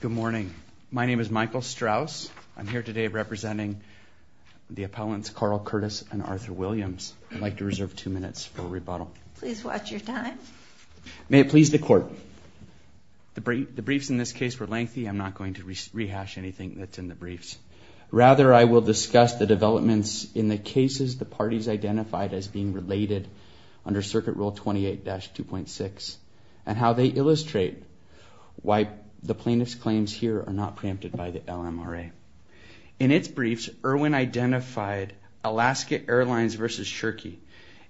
Good morning. My name is Michael Strauss. I'm here today representing the appellants Carl Curtis and Arthur Williams. I'd like to reserve two minutes for rebuttal. Please watch your time. May it please the court. The briefs in this case were lengthy. I'm not going to rehash anything that's in the briefs. Rather, I will discuss the developments in the cases the parties identified as being related under Circuit Rule 28-2.6 and how they illustrate why the plaintiff's claims here are not preempted by the LMRA. In its briefs, Irwin identified Alaska Airlines v. Shirky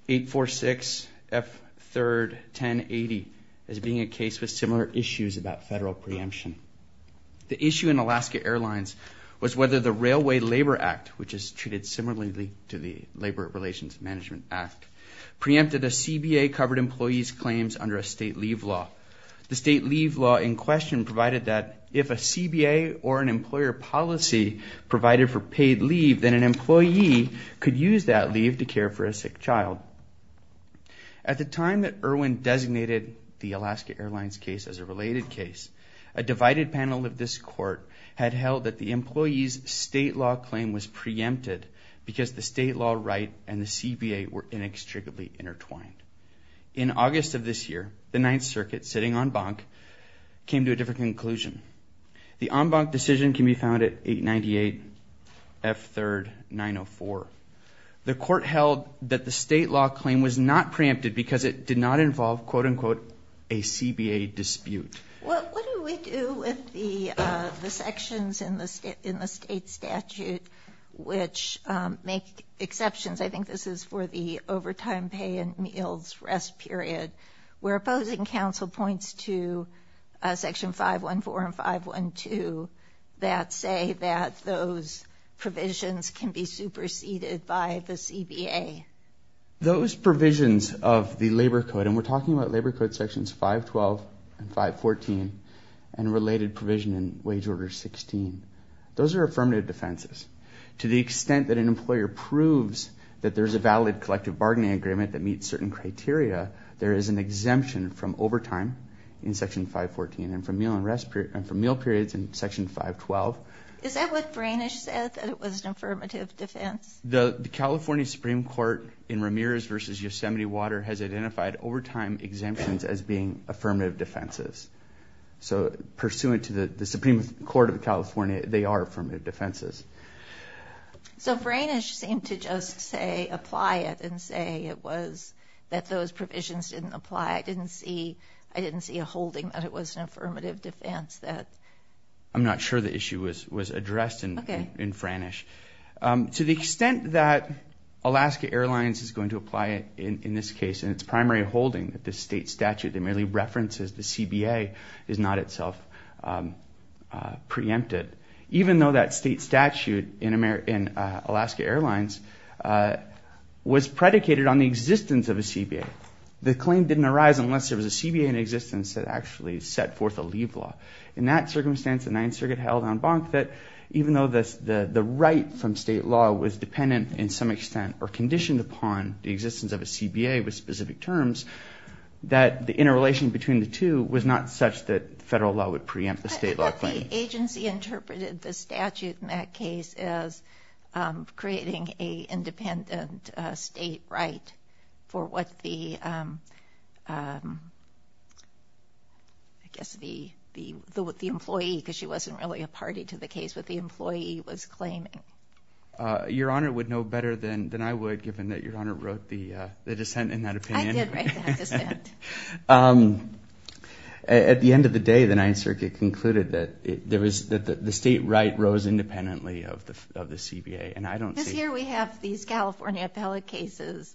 846F31080 as being a case with similar issues about federal preemption. The issue in Alaska Airlines was whether the Railway Labor Act, which is treated similarly to the Labor Relations Management Act, preempted a CBA-covered employee's claims under a leave law. The state leave law in question provided that if a CBA or an employer policy provided for paid leave, then an employee could use that leave to care for a sick child. At the time that Irwin designated the Alaska Airlines case as a related case, a divided panel of this court had held that the employee's state law claim was preempted because the state law right and the CBA were inextricably intertwined. In August of this year, the Ninth Circuit, sitting en banc, came to a different conclusion. The en banc decision can be found at 898F3904. The court held that the state law claim was not preempted because it did not involve quote-unquote a CBA dispute. What do we do with the sections in the state statute which make exceptions? I think this is for the overtime pay and meals rest period. We're opposing counsel points to section 514 and 512 that say that those provisions can be superseded by the CBA. Those provisions of the labor code, and we're talking about labor code sections 512 and 514 and related provision in wage order 16, those are affirmative defenses. To the extent that an employer proves that there's a valid collective bargaining agreement that meets certain criteria, there is an exemption from overtime in section 514 and from meal periods in section 512. Is that what Branish said, that it was an affirmative defense? The California Supreme Court in Ramirez versus Yosemite Water has identified overtime exemptions as being affirmative defenses. So pursuant to the Supreme Court of California, they are affirmative defenses. So Branish seemed to just say apply it and say it was that those provisions didn't apply. I didn't see I didn't see a holding that it was an affirmative defense. I'm not sure the issue was was addressed in Branish. To the extent that Alaska Airlines is going to apply it in this case and its primary holding that this state statute merely references the CBA is not itself preempted, even though that state statute in Alaska Airlines was predicated on the existence of a CBA. The claim didn't arise unless there was a CBA in existence that actually set forth a leave law. In that circumstance, the Ninth Circuit held on Bonk that even though the right from state law was dependent in some extent or conditioned upon the existence of a CBA with specific terms, that the interrelation between the two was not such that federal law would preempt the state law claim. What the agency interpreted the statute in that case as creating a independent state right for what the I guess the the the employee, because she wasn't really a party to the case, what the employee was claiming. Your Honor would know better than than I would given that Your Honor wrote the dissent in that opinion. At the end of the day, the Ninth Circuit concluded that the state right rose independently of the CBA. This year we have these California appellate cases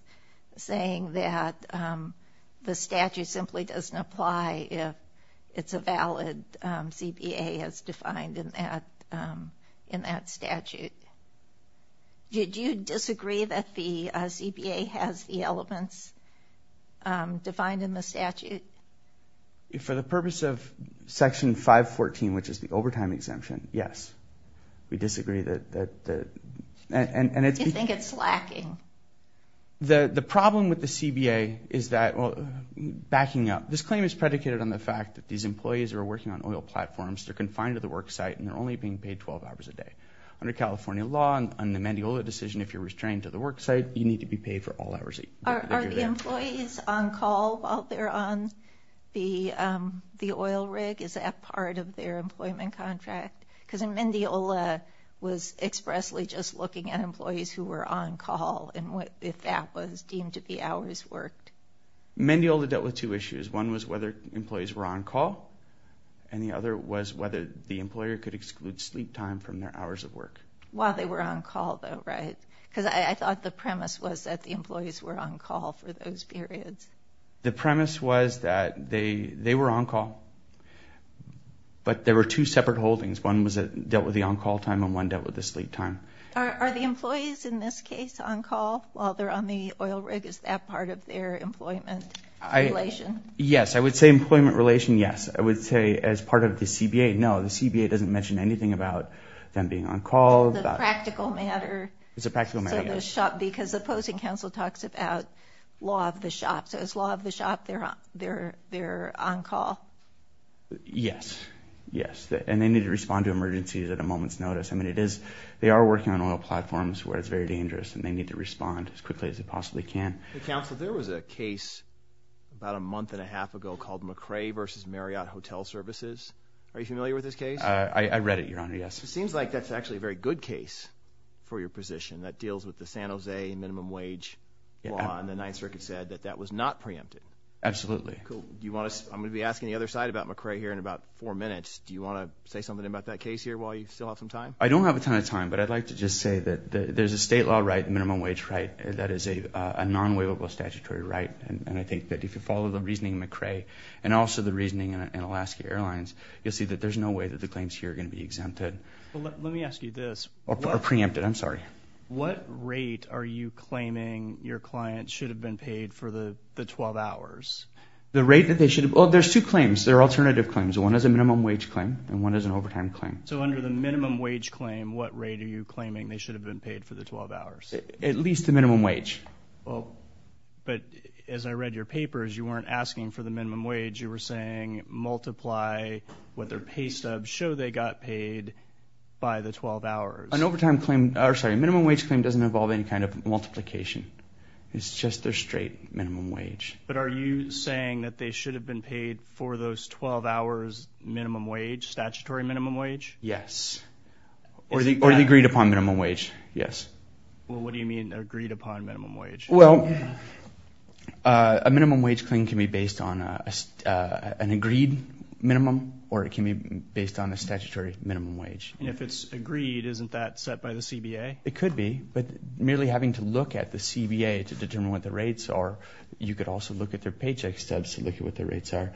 saying that the statute simply doesn't apply if it's a valid CBA as defined in that statute. Did you disagree that the CBA has the elements defined in the statute? For the purpose of section 514, which is the overtime exemption, yes. We disagree that and it's lacking. The the problem with the CBA is that, backing up, this claim is predicated on the fact that these employees are working on oil platforms, they're confined to the work site, and they're only being paid 12 hours a day. Under California law, on the Mendiola decision, if you're restrained to the work site, you need to be paid for all hours. Are the employees on call while they're on the the oil rig? Is that part of their employment contract? Because Mendiola was expressly just looking at employees who were on call and what if that was deemed to be hours worked. Mendiola dealt with two issues. One was whether employees were on call and the other was whether the employer could exclude sleep time from their hours of work. While they were on call though, right? Because I thought the premise was that the employees were on call for those periods. The premise was that they they were on call, but there were two separate holdings. One dealt with the on-call time and one dealt with the sleep time. Are the employees, in this case, on call while they're on the oil rig? Is that part of their employment relation? Yes, I would say employment relation, but I haven't mentioned anything about them being on call. It's a practical matter because the opposing counsel talks about law of the shop. So it's law of the shop, they're on call? Yes, yes, and they need to respond to emergencies at a moment's notice. I mean it is, they are working on oil platforms where it's very dangerous and they need to respond as quickly as they possibly can. Counsel, there was a case about a month and a half ago called McRae versus Marriott Hotel Services. Are you familiar with this case? I read it, Your Honor, yes. It seems like that's actually a very good case for your position that deals with the San Jose minimum wage law and the Ninth Circuit said that that was not preempted. Absolutely. I'm going to be asking the other side about McRae here in about four minutes. Do you want to say something about that case here while you still have some time? I don't have a ton of time, but I'd like to just say that there's a state law right, minimum wage right, that is a non-waivable statutory right and I think that if you follow the reasoning McRae and also the Alaska Airlines, you'll see that there's no way that the claims here are going to be exempted. Let me ask you this. Or preempted, I'm sorry. What rate are you claiming your client should have been paid for the 12 hours? The rate that they should have, well there's two claims, there are alternative claims. One is a minimum wage claim and one is an overtime claim. So under the minimum wage claim, what rate are you claiming they should have been paid for the 12 hours? At least the minimum wage. Well, but as I read your papers, you weren't asking for the minimum wage, you were saying multiply what their pay stubs show they got paid by the 12 hours. An overtime claim, or sorry, minimum wage claim doesn't involve any kind of multiplication. It's just their straight minimum wage. But are you saying that they should have been paid for those 12 hours minimum wage, statutory minimum wage? Yes. Or the agreed upon minimum wage, yes. Well what do you mean agreed upon minimum wage? Well, a minimum wage claim can be based on an agreed minimum, or it can be based on a statutory minimum wage. And if it's agreed, isn't that set by the CBA? It could be, but merely having to look at the CBA to determine what the rates are, you could also look at their paycheck stubs to look at what their rates are.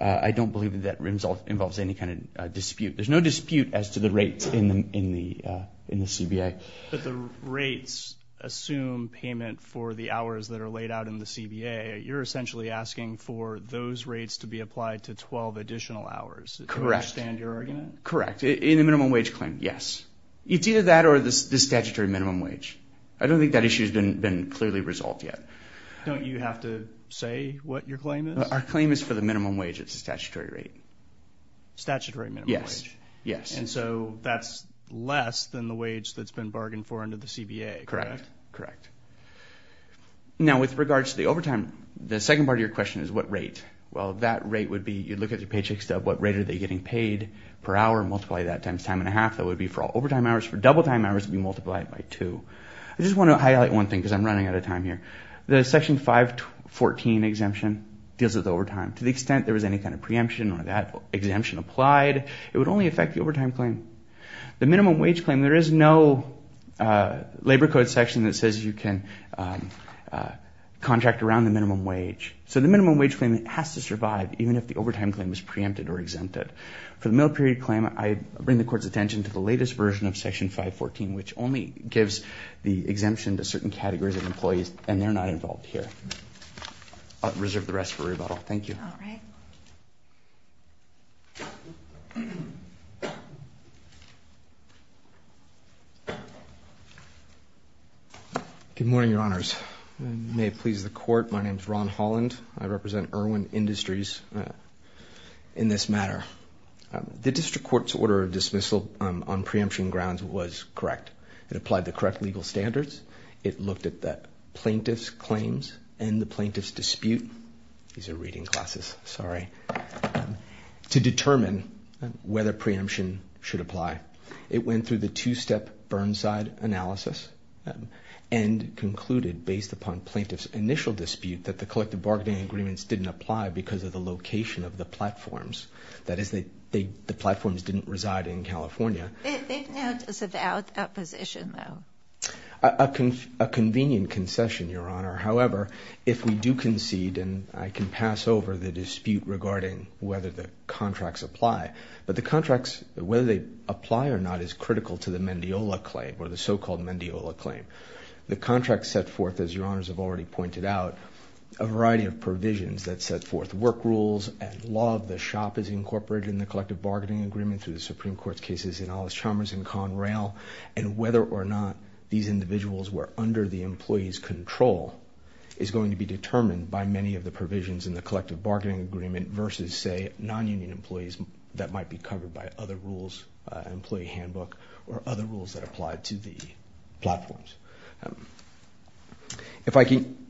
I don't believe that that result involves any kind of dispute. There's no dispute as to the rates in the CBA. But the rates assume payment for the hours that are laid out in the CBA. You're essentially asking for those rates to be applied to 12 additional hours. Correct. Do I understand your argument? Correct. In a minimum wage claim, yes. It's either that or the statutory minimum wage. I don't think that issue has been clearly resolved yet. Don't you have to say what your claim is? Our claim is for the minimum wage, it's a statutory rate. Statutory minimum wage? Yes. And so that's less than the wage that's been Now with regards to the overtime, the second part of your question is what rate? Well that rate would be, you'd look at your paycheck stub, what rate are they getting paid per hour, multiply that times time and a half, that would be for all overtime hours. For double time hours, we multiply it by two. I just want to highlight one thing because I'm running out of time here. The section 514 exemption deals with overtime. To the extent there was any kind of preemption or that exemption applied, it would only affect the overtime claim. The minimum contract around the minimum wage. So the minimum wage claim has to survive even if the overtime claim is preempted or exempted. For the middle period claim, I bring the court's attention to the latest version of section 514 which only gives the exemption to certain categories of employees and they're not involved here. I'll reserve the rest for rebuttal. Thank you. All right. Good morning, your honors. May it please the court, my name is Ron Holland. I represent Irwin Industries in this matter. The district court's order of dismissal on preemption grounds was correct. It applied the correct legal standards. It looked at the plaintiff's claims and the plaintiff's dispute. These are reading classes, sorry. To determine whether preemption should apply. It went through the two-step Burnside analysis and concluded based upon plaintiff's initial dispute that the collective bargaining agreements didn't apply because of the location of the platforms. That is, the platforms didn't reside in California. They've now said out of position though. A convenient concession, your honor. However, if we do concede and I can pass over the dispute regarding whether the contracts apply. But the contracts, whether they apply or not, is critical to the Mendiola claim or the so-called Mendiola claim. The contract set forth, as your honors have already pointed out, a variety of provisions that set forth work rules and law of the shop is incorporated in the collective bargaining agreement through the Supreme Court's cases in Alice Chalmers and Conrail and whether or not these individuals were under the employees control is going to be determined by many of the provisions in the collective bargaining agreement versus, say, non-union employees that might be covered by other rules, employee handbook, or other rules that apply to the platforms. If I can,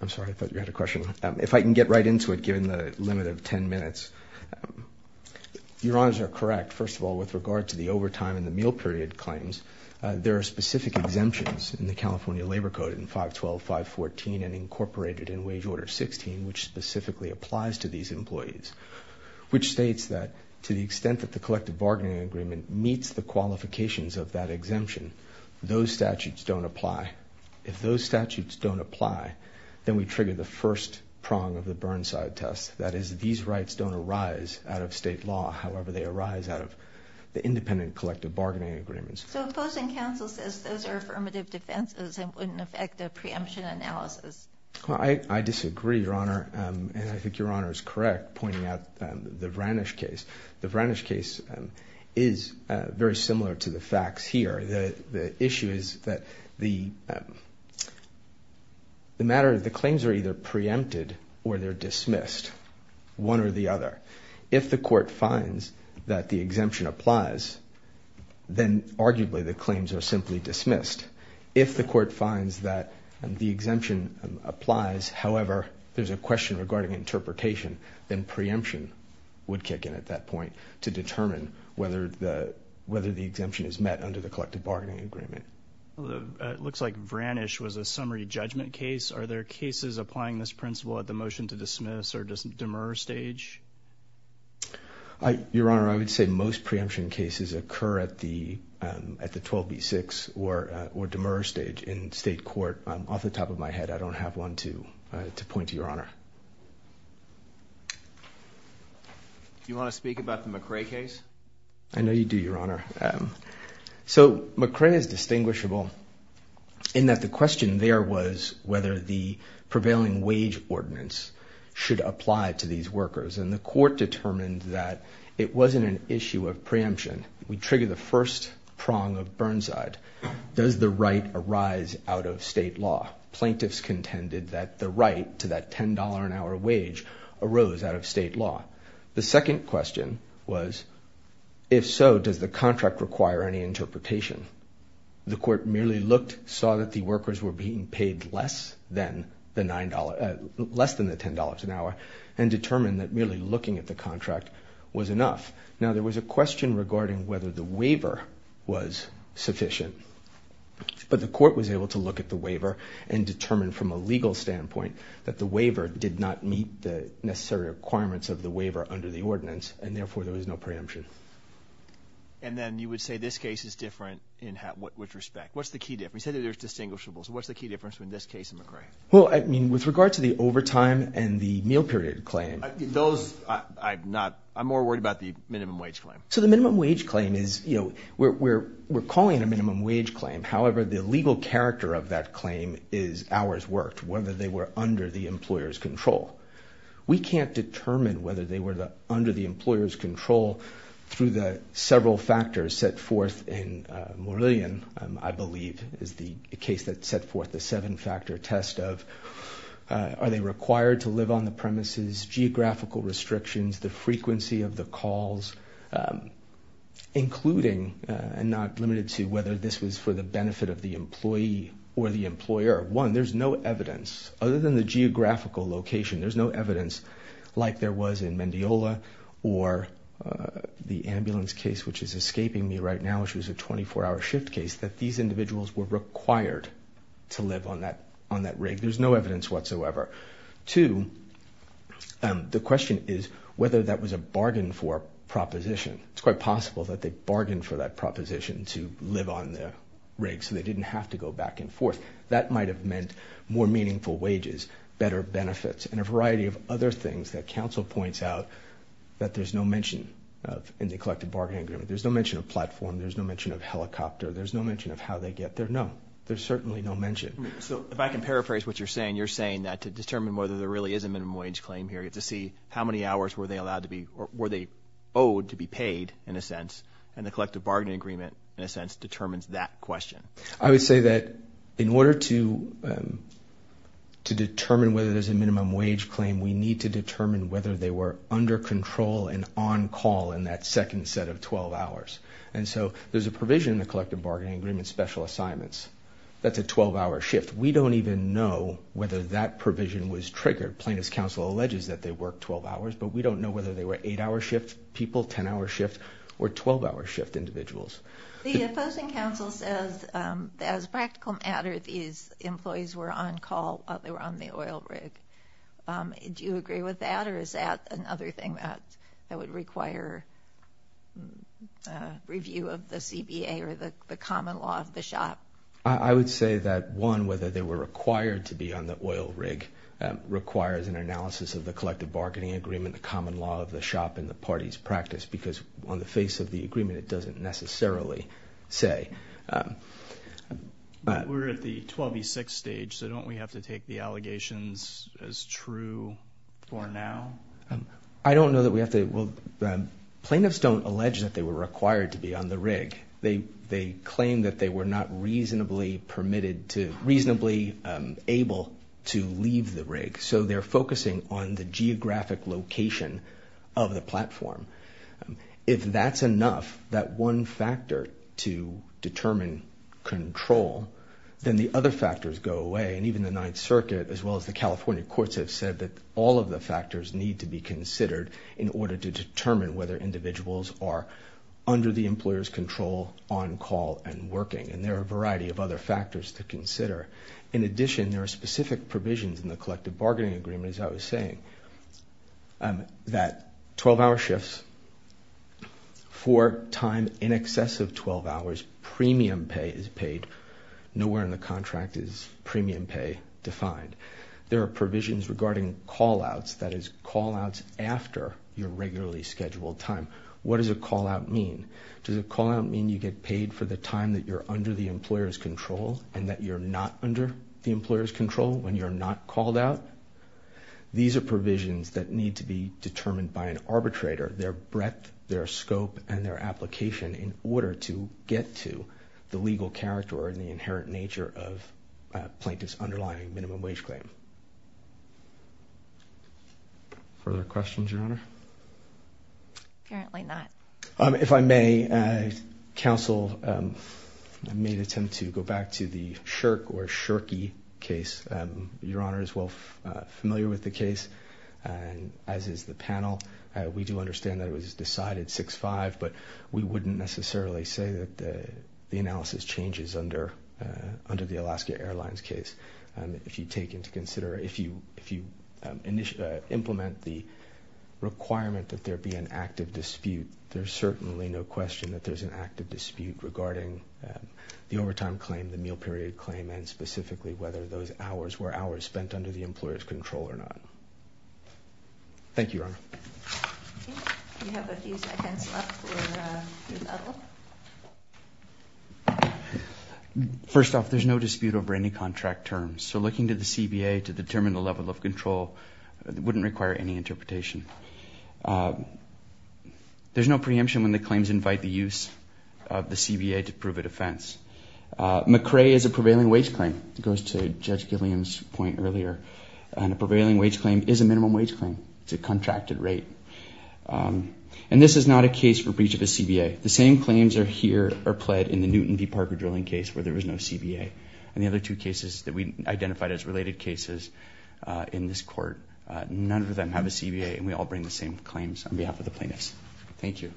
I'm sorry, I thought you had a question. If I can get right into it given the limit of ten minutes. Your honors are correct. First of all, with regard to the overtime and the meal period claims, there are specific exemptions in the California Labor Code in 512, 514, and incorporated in Wage Order 16, which specifically applies to these employees, which states that to the extent that the collective bargaining agreement meets the qualifications of that exemption, those statutes don't apply. If those statutes don't apply, then we trigger the first prong of the Burnside Test. That is, these rights don't arise out of state law. However, they arise out of the affirmative defenses and wouldn't affect a preemption analysis. I disagree, your honor, and I think your honor is correct pointing out the Vranish case. The Vranish case is very similar to the facts here. The issue is that the matter of the claims are either preempted or they're dismissed, one or the other. If the court finds that the exemption applies, then arguably the claim is dismissed. If the court finds that the exemption applies, however, there's a question regarding interpretation, then preemption would kick in at that point to determine whether the whether the exemption is met under the collective bargaining agreement. It looks like Vranish was a summary judgment case. Are there cases applying this principle at the motion to dismiss or demur stage? Your honor, I would say most preemption cases occur at the 12B6 or demur stage in state court. Off the top of my head, I don't have one to point to, your honor. Do you want to speak about the McRae case? I know you do, your honor. McRae is distinguishable in that the question there was whether the prevailing wage ordinance should apply to these workers. The wasn't an issue of preemption. We trigger the first prong of Burnside. Does the right arise out of state law? Plaintiffs contended that the right to that $10 an hour wage arose out of state law. The second question was, if so, does the contract require any interpretation? The court merely looked, saw that the workers were being paid less than the $10 an hour and determined that merely looking at the contract was enough. Now there was a question regarding whether the waiver was sufficient, but the court was able to look at the waiver and determine from a legal standpoint that the waiver did not meet the necessary requirements of the waiver under the ordinance and therefore there was no preemption. And then you would say this case is different in which respect? What's the key difference? You said that there's distinguishables. What's the key difference in this case in McRae? Well, I period claim. Those, I'm not, I'm more worried about the minimum wage claim. So the minimum wage claim is, you know, we're calling a minimum wage claim. However, the legal character of that claim is hours worked, whether they were under the employer's control. We can't determine whether they were the under the employer's control through the several factors set forth in Morillion, I believe, is the case that set forth the seven-factor test of are they required to live on the premises, geographical restrictions, the frequency of the calls, including and not limited to whether this was for the benefit of the employee or the employer. One, there's no evidence other than the geographical location, there's no evidence like there was in Mendiola or the ambulance case which is escaping me right now, which was a 24-hour shift case, that these individuals were required to live on that on that rig. There's no evidence whatsoever. Two, the question is whether that was a bargain for proposition. It's quite possible that they bargained for that proposition to live on the rig so they didn't have to go back and forth. That might have meant more meaningful wages, better benefits, and a variety of other things that counsel points out that there's no mention of in the collective bargaining agreement. There's no mention of platform, there's no mention of helicopter, there's no mention of how they get there. No, there's certainly no mention. So if I can paraphrase what you're saying, you're saying that to determine whether there really is a minimum wage claim here, to see how many hours were they allowed to be or were they owed to be paid in a sense, and the collective bargaining agreement in a sense determines that question. I would say that in order to to determine whether there's a minimum wage claim, we need to determine whether they were under control and on call in that second set of 12 hours. And so there's a provision in the collective bargaining agreement special assignments that's a 12-hour shift. We don't even know whether that provision was triggered. Plaintiff's counsel alleges that they work 12 hours, but we don't know whether they were eight-hour shift people, 10-hour shift, or 12-hour shift individuals. The opposing counsel says as practical matter these employees were on call while they were on the oil rig. Do you agree with that or is that another thing that that would require review of the CBA or the common law of the shop? I would say that one, whether they were required to be on the oil rig requires an analysis of the collective bargaining agreement, the common law of the shop, and the party's practice, because on the face of the agreement it doesn't necessarily say. We're at the 12 v 6 stage, so don't we have to take the allegations as true for now? I don't know that we have to. Well, plaintiffs don't allege that they were required to be on the rig. They claim that they were not reasonably permitted to, reasonably able to leave the rig. So they're focusing on the geographic location of the platform. If that's enough, that one factor to determine control, then the other factors go away. And even the Ninth Circuit, as well, all of the factors need to be considered in order to determine whether individuals are under the employer's control on call and working. And there are a variety of other factors to consider. In addition, there are specific provisions in the collective bargaining agreement, as I was saying, that 12-hour shifts for time in excess of 12 hours, premium pay is paid. Nowhere in the is call-outs after your regularly scheduled time. What does a call-out mean? Does a call-out mean you get paid for the time that you're under the employer's control and that you're not under the employer's control when you're not called out? These are provisions that need to be determined by an arbitrator, their breadth, their scope, and their application in order to get to the legal character or in the inherent nature of plaintiff's underlying minimum wage claim. Further questions, Your Honor? Apparently not. If I may, counsel, I may attempt to go back to the Shirk or Shirky case. Your Honor is well familiar with the case, as is the panel. We do understand that it was decided 6-5, but we wouldn't necessarily say that the analysis changes under the Alaska Airlines case. If you take into consideration, if you implement the requirement that there be an active dispute, there's certainly no question that there's an active dispute regarding the overtime claim, the meal period claim, and specifically whether those hours were hours spent under the employer's control or not. Thank you, Your Honor. First off, there's no dispute over any contract terms, so looking to the CBA to determine the level of control wouldn't require any interpretation. There's no preemption when the claims invite the use of the CBA to prove a defense. McCrae is a prevailing wage claim, it goes to Judge McCrae, a prevailing wage claim is a minimum wage claim. It's a contracted rate. And this is not a case for breach of a CBA. The same claims are here, are pled in the Newton v. Parker drilling case where there was no CBA. And the other two cases that we identified as related cases in this court, none of them have a CBA, and we all bring the same claims on behalf of the plaintiffs. Thank you.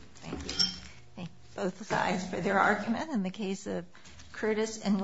Both sides for their argument in the case of Curtis and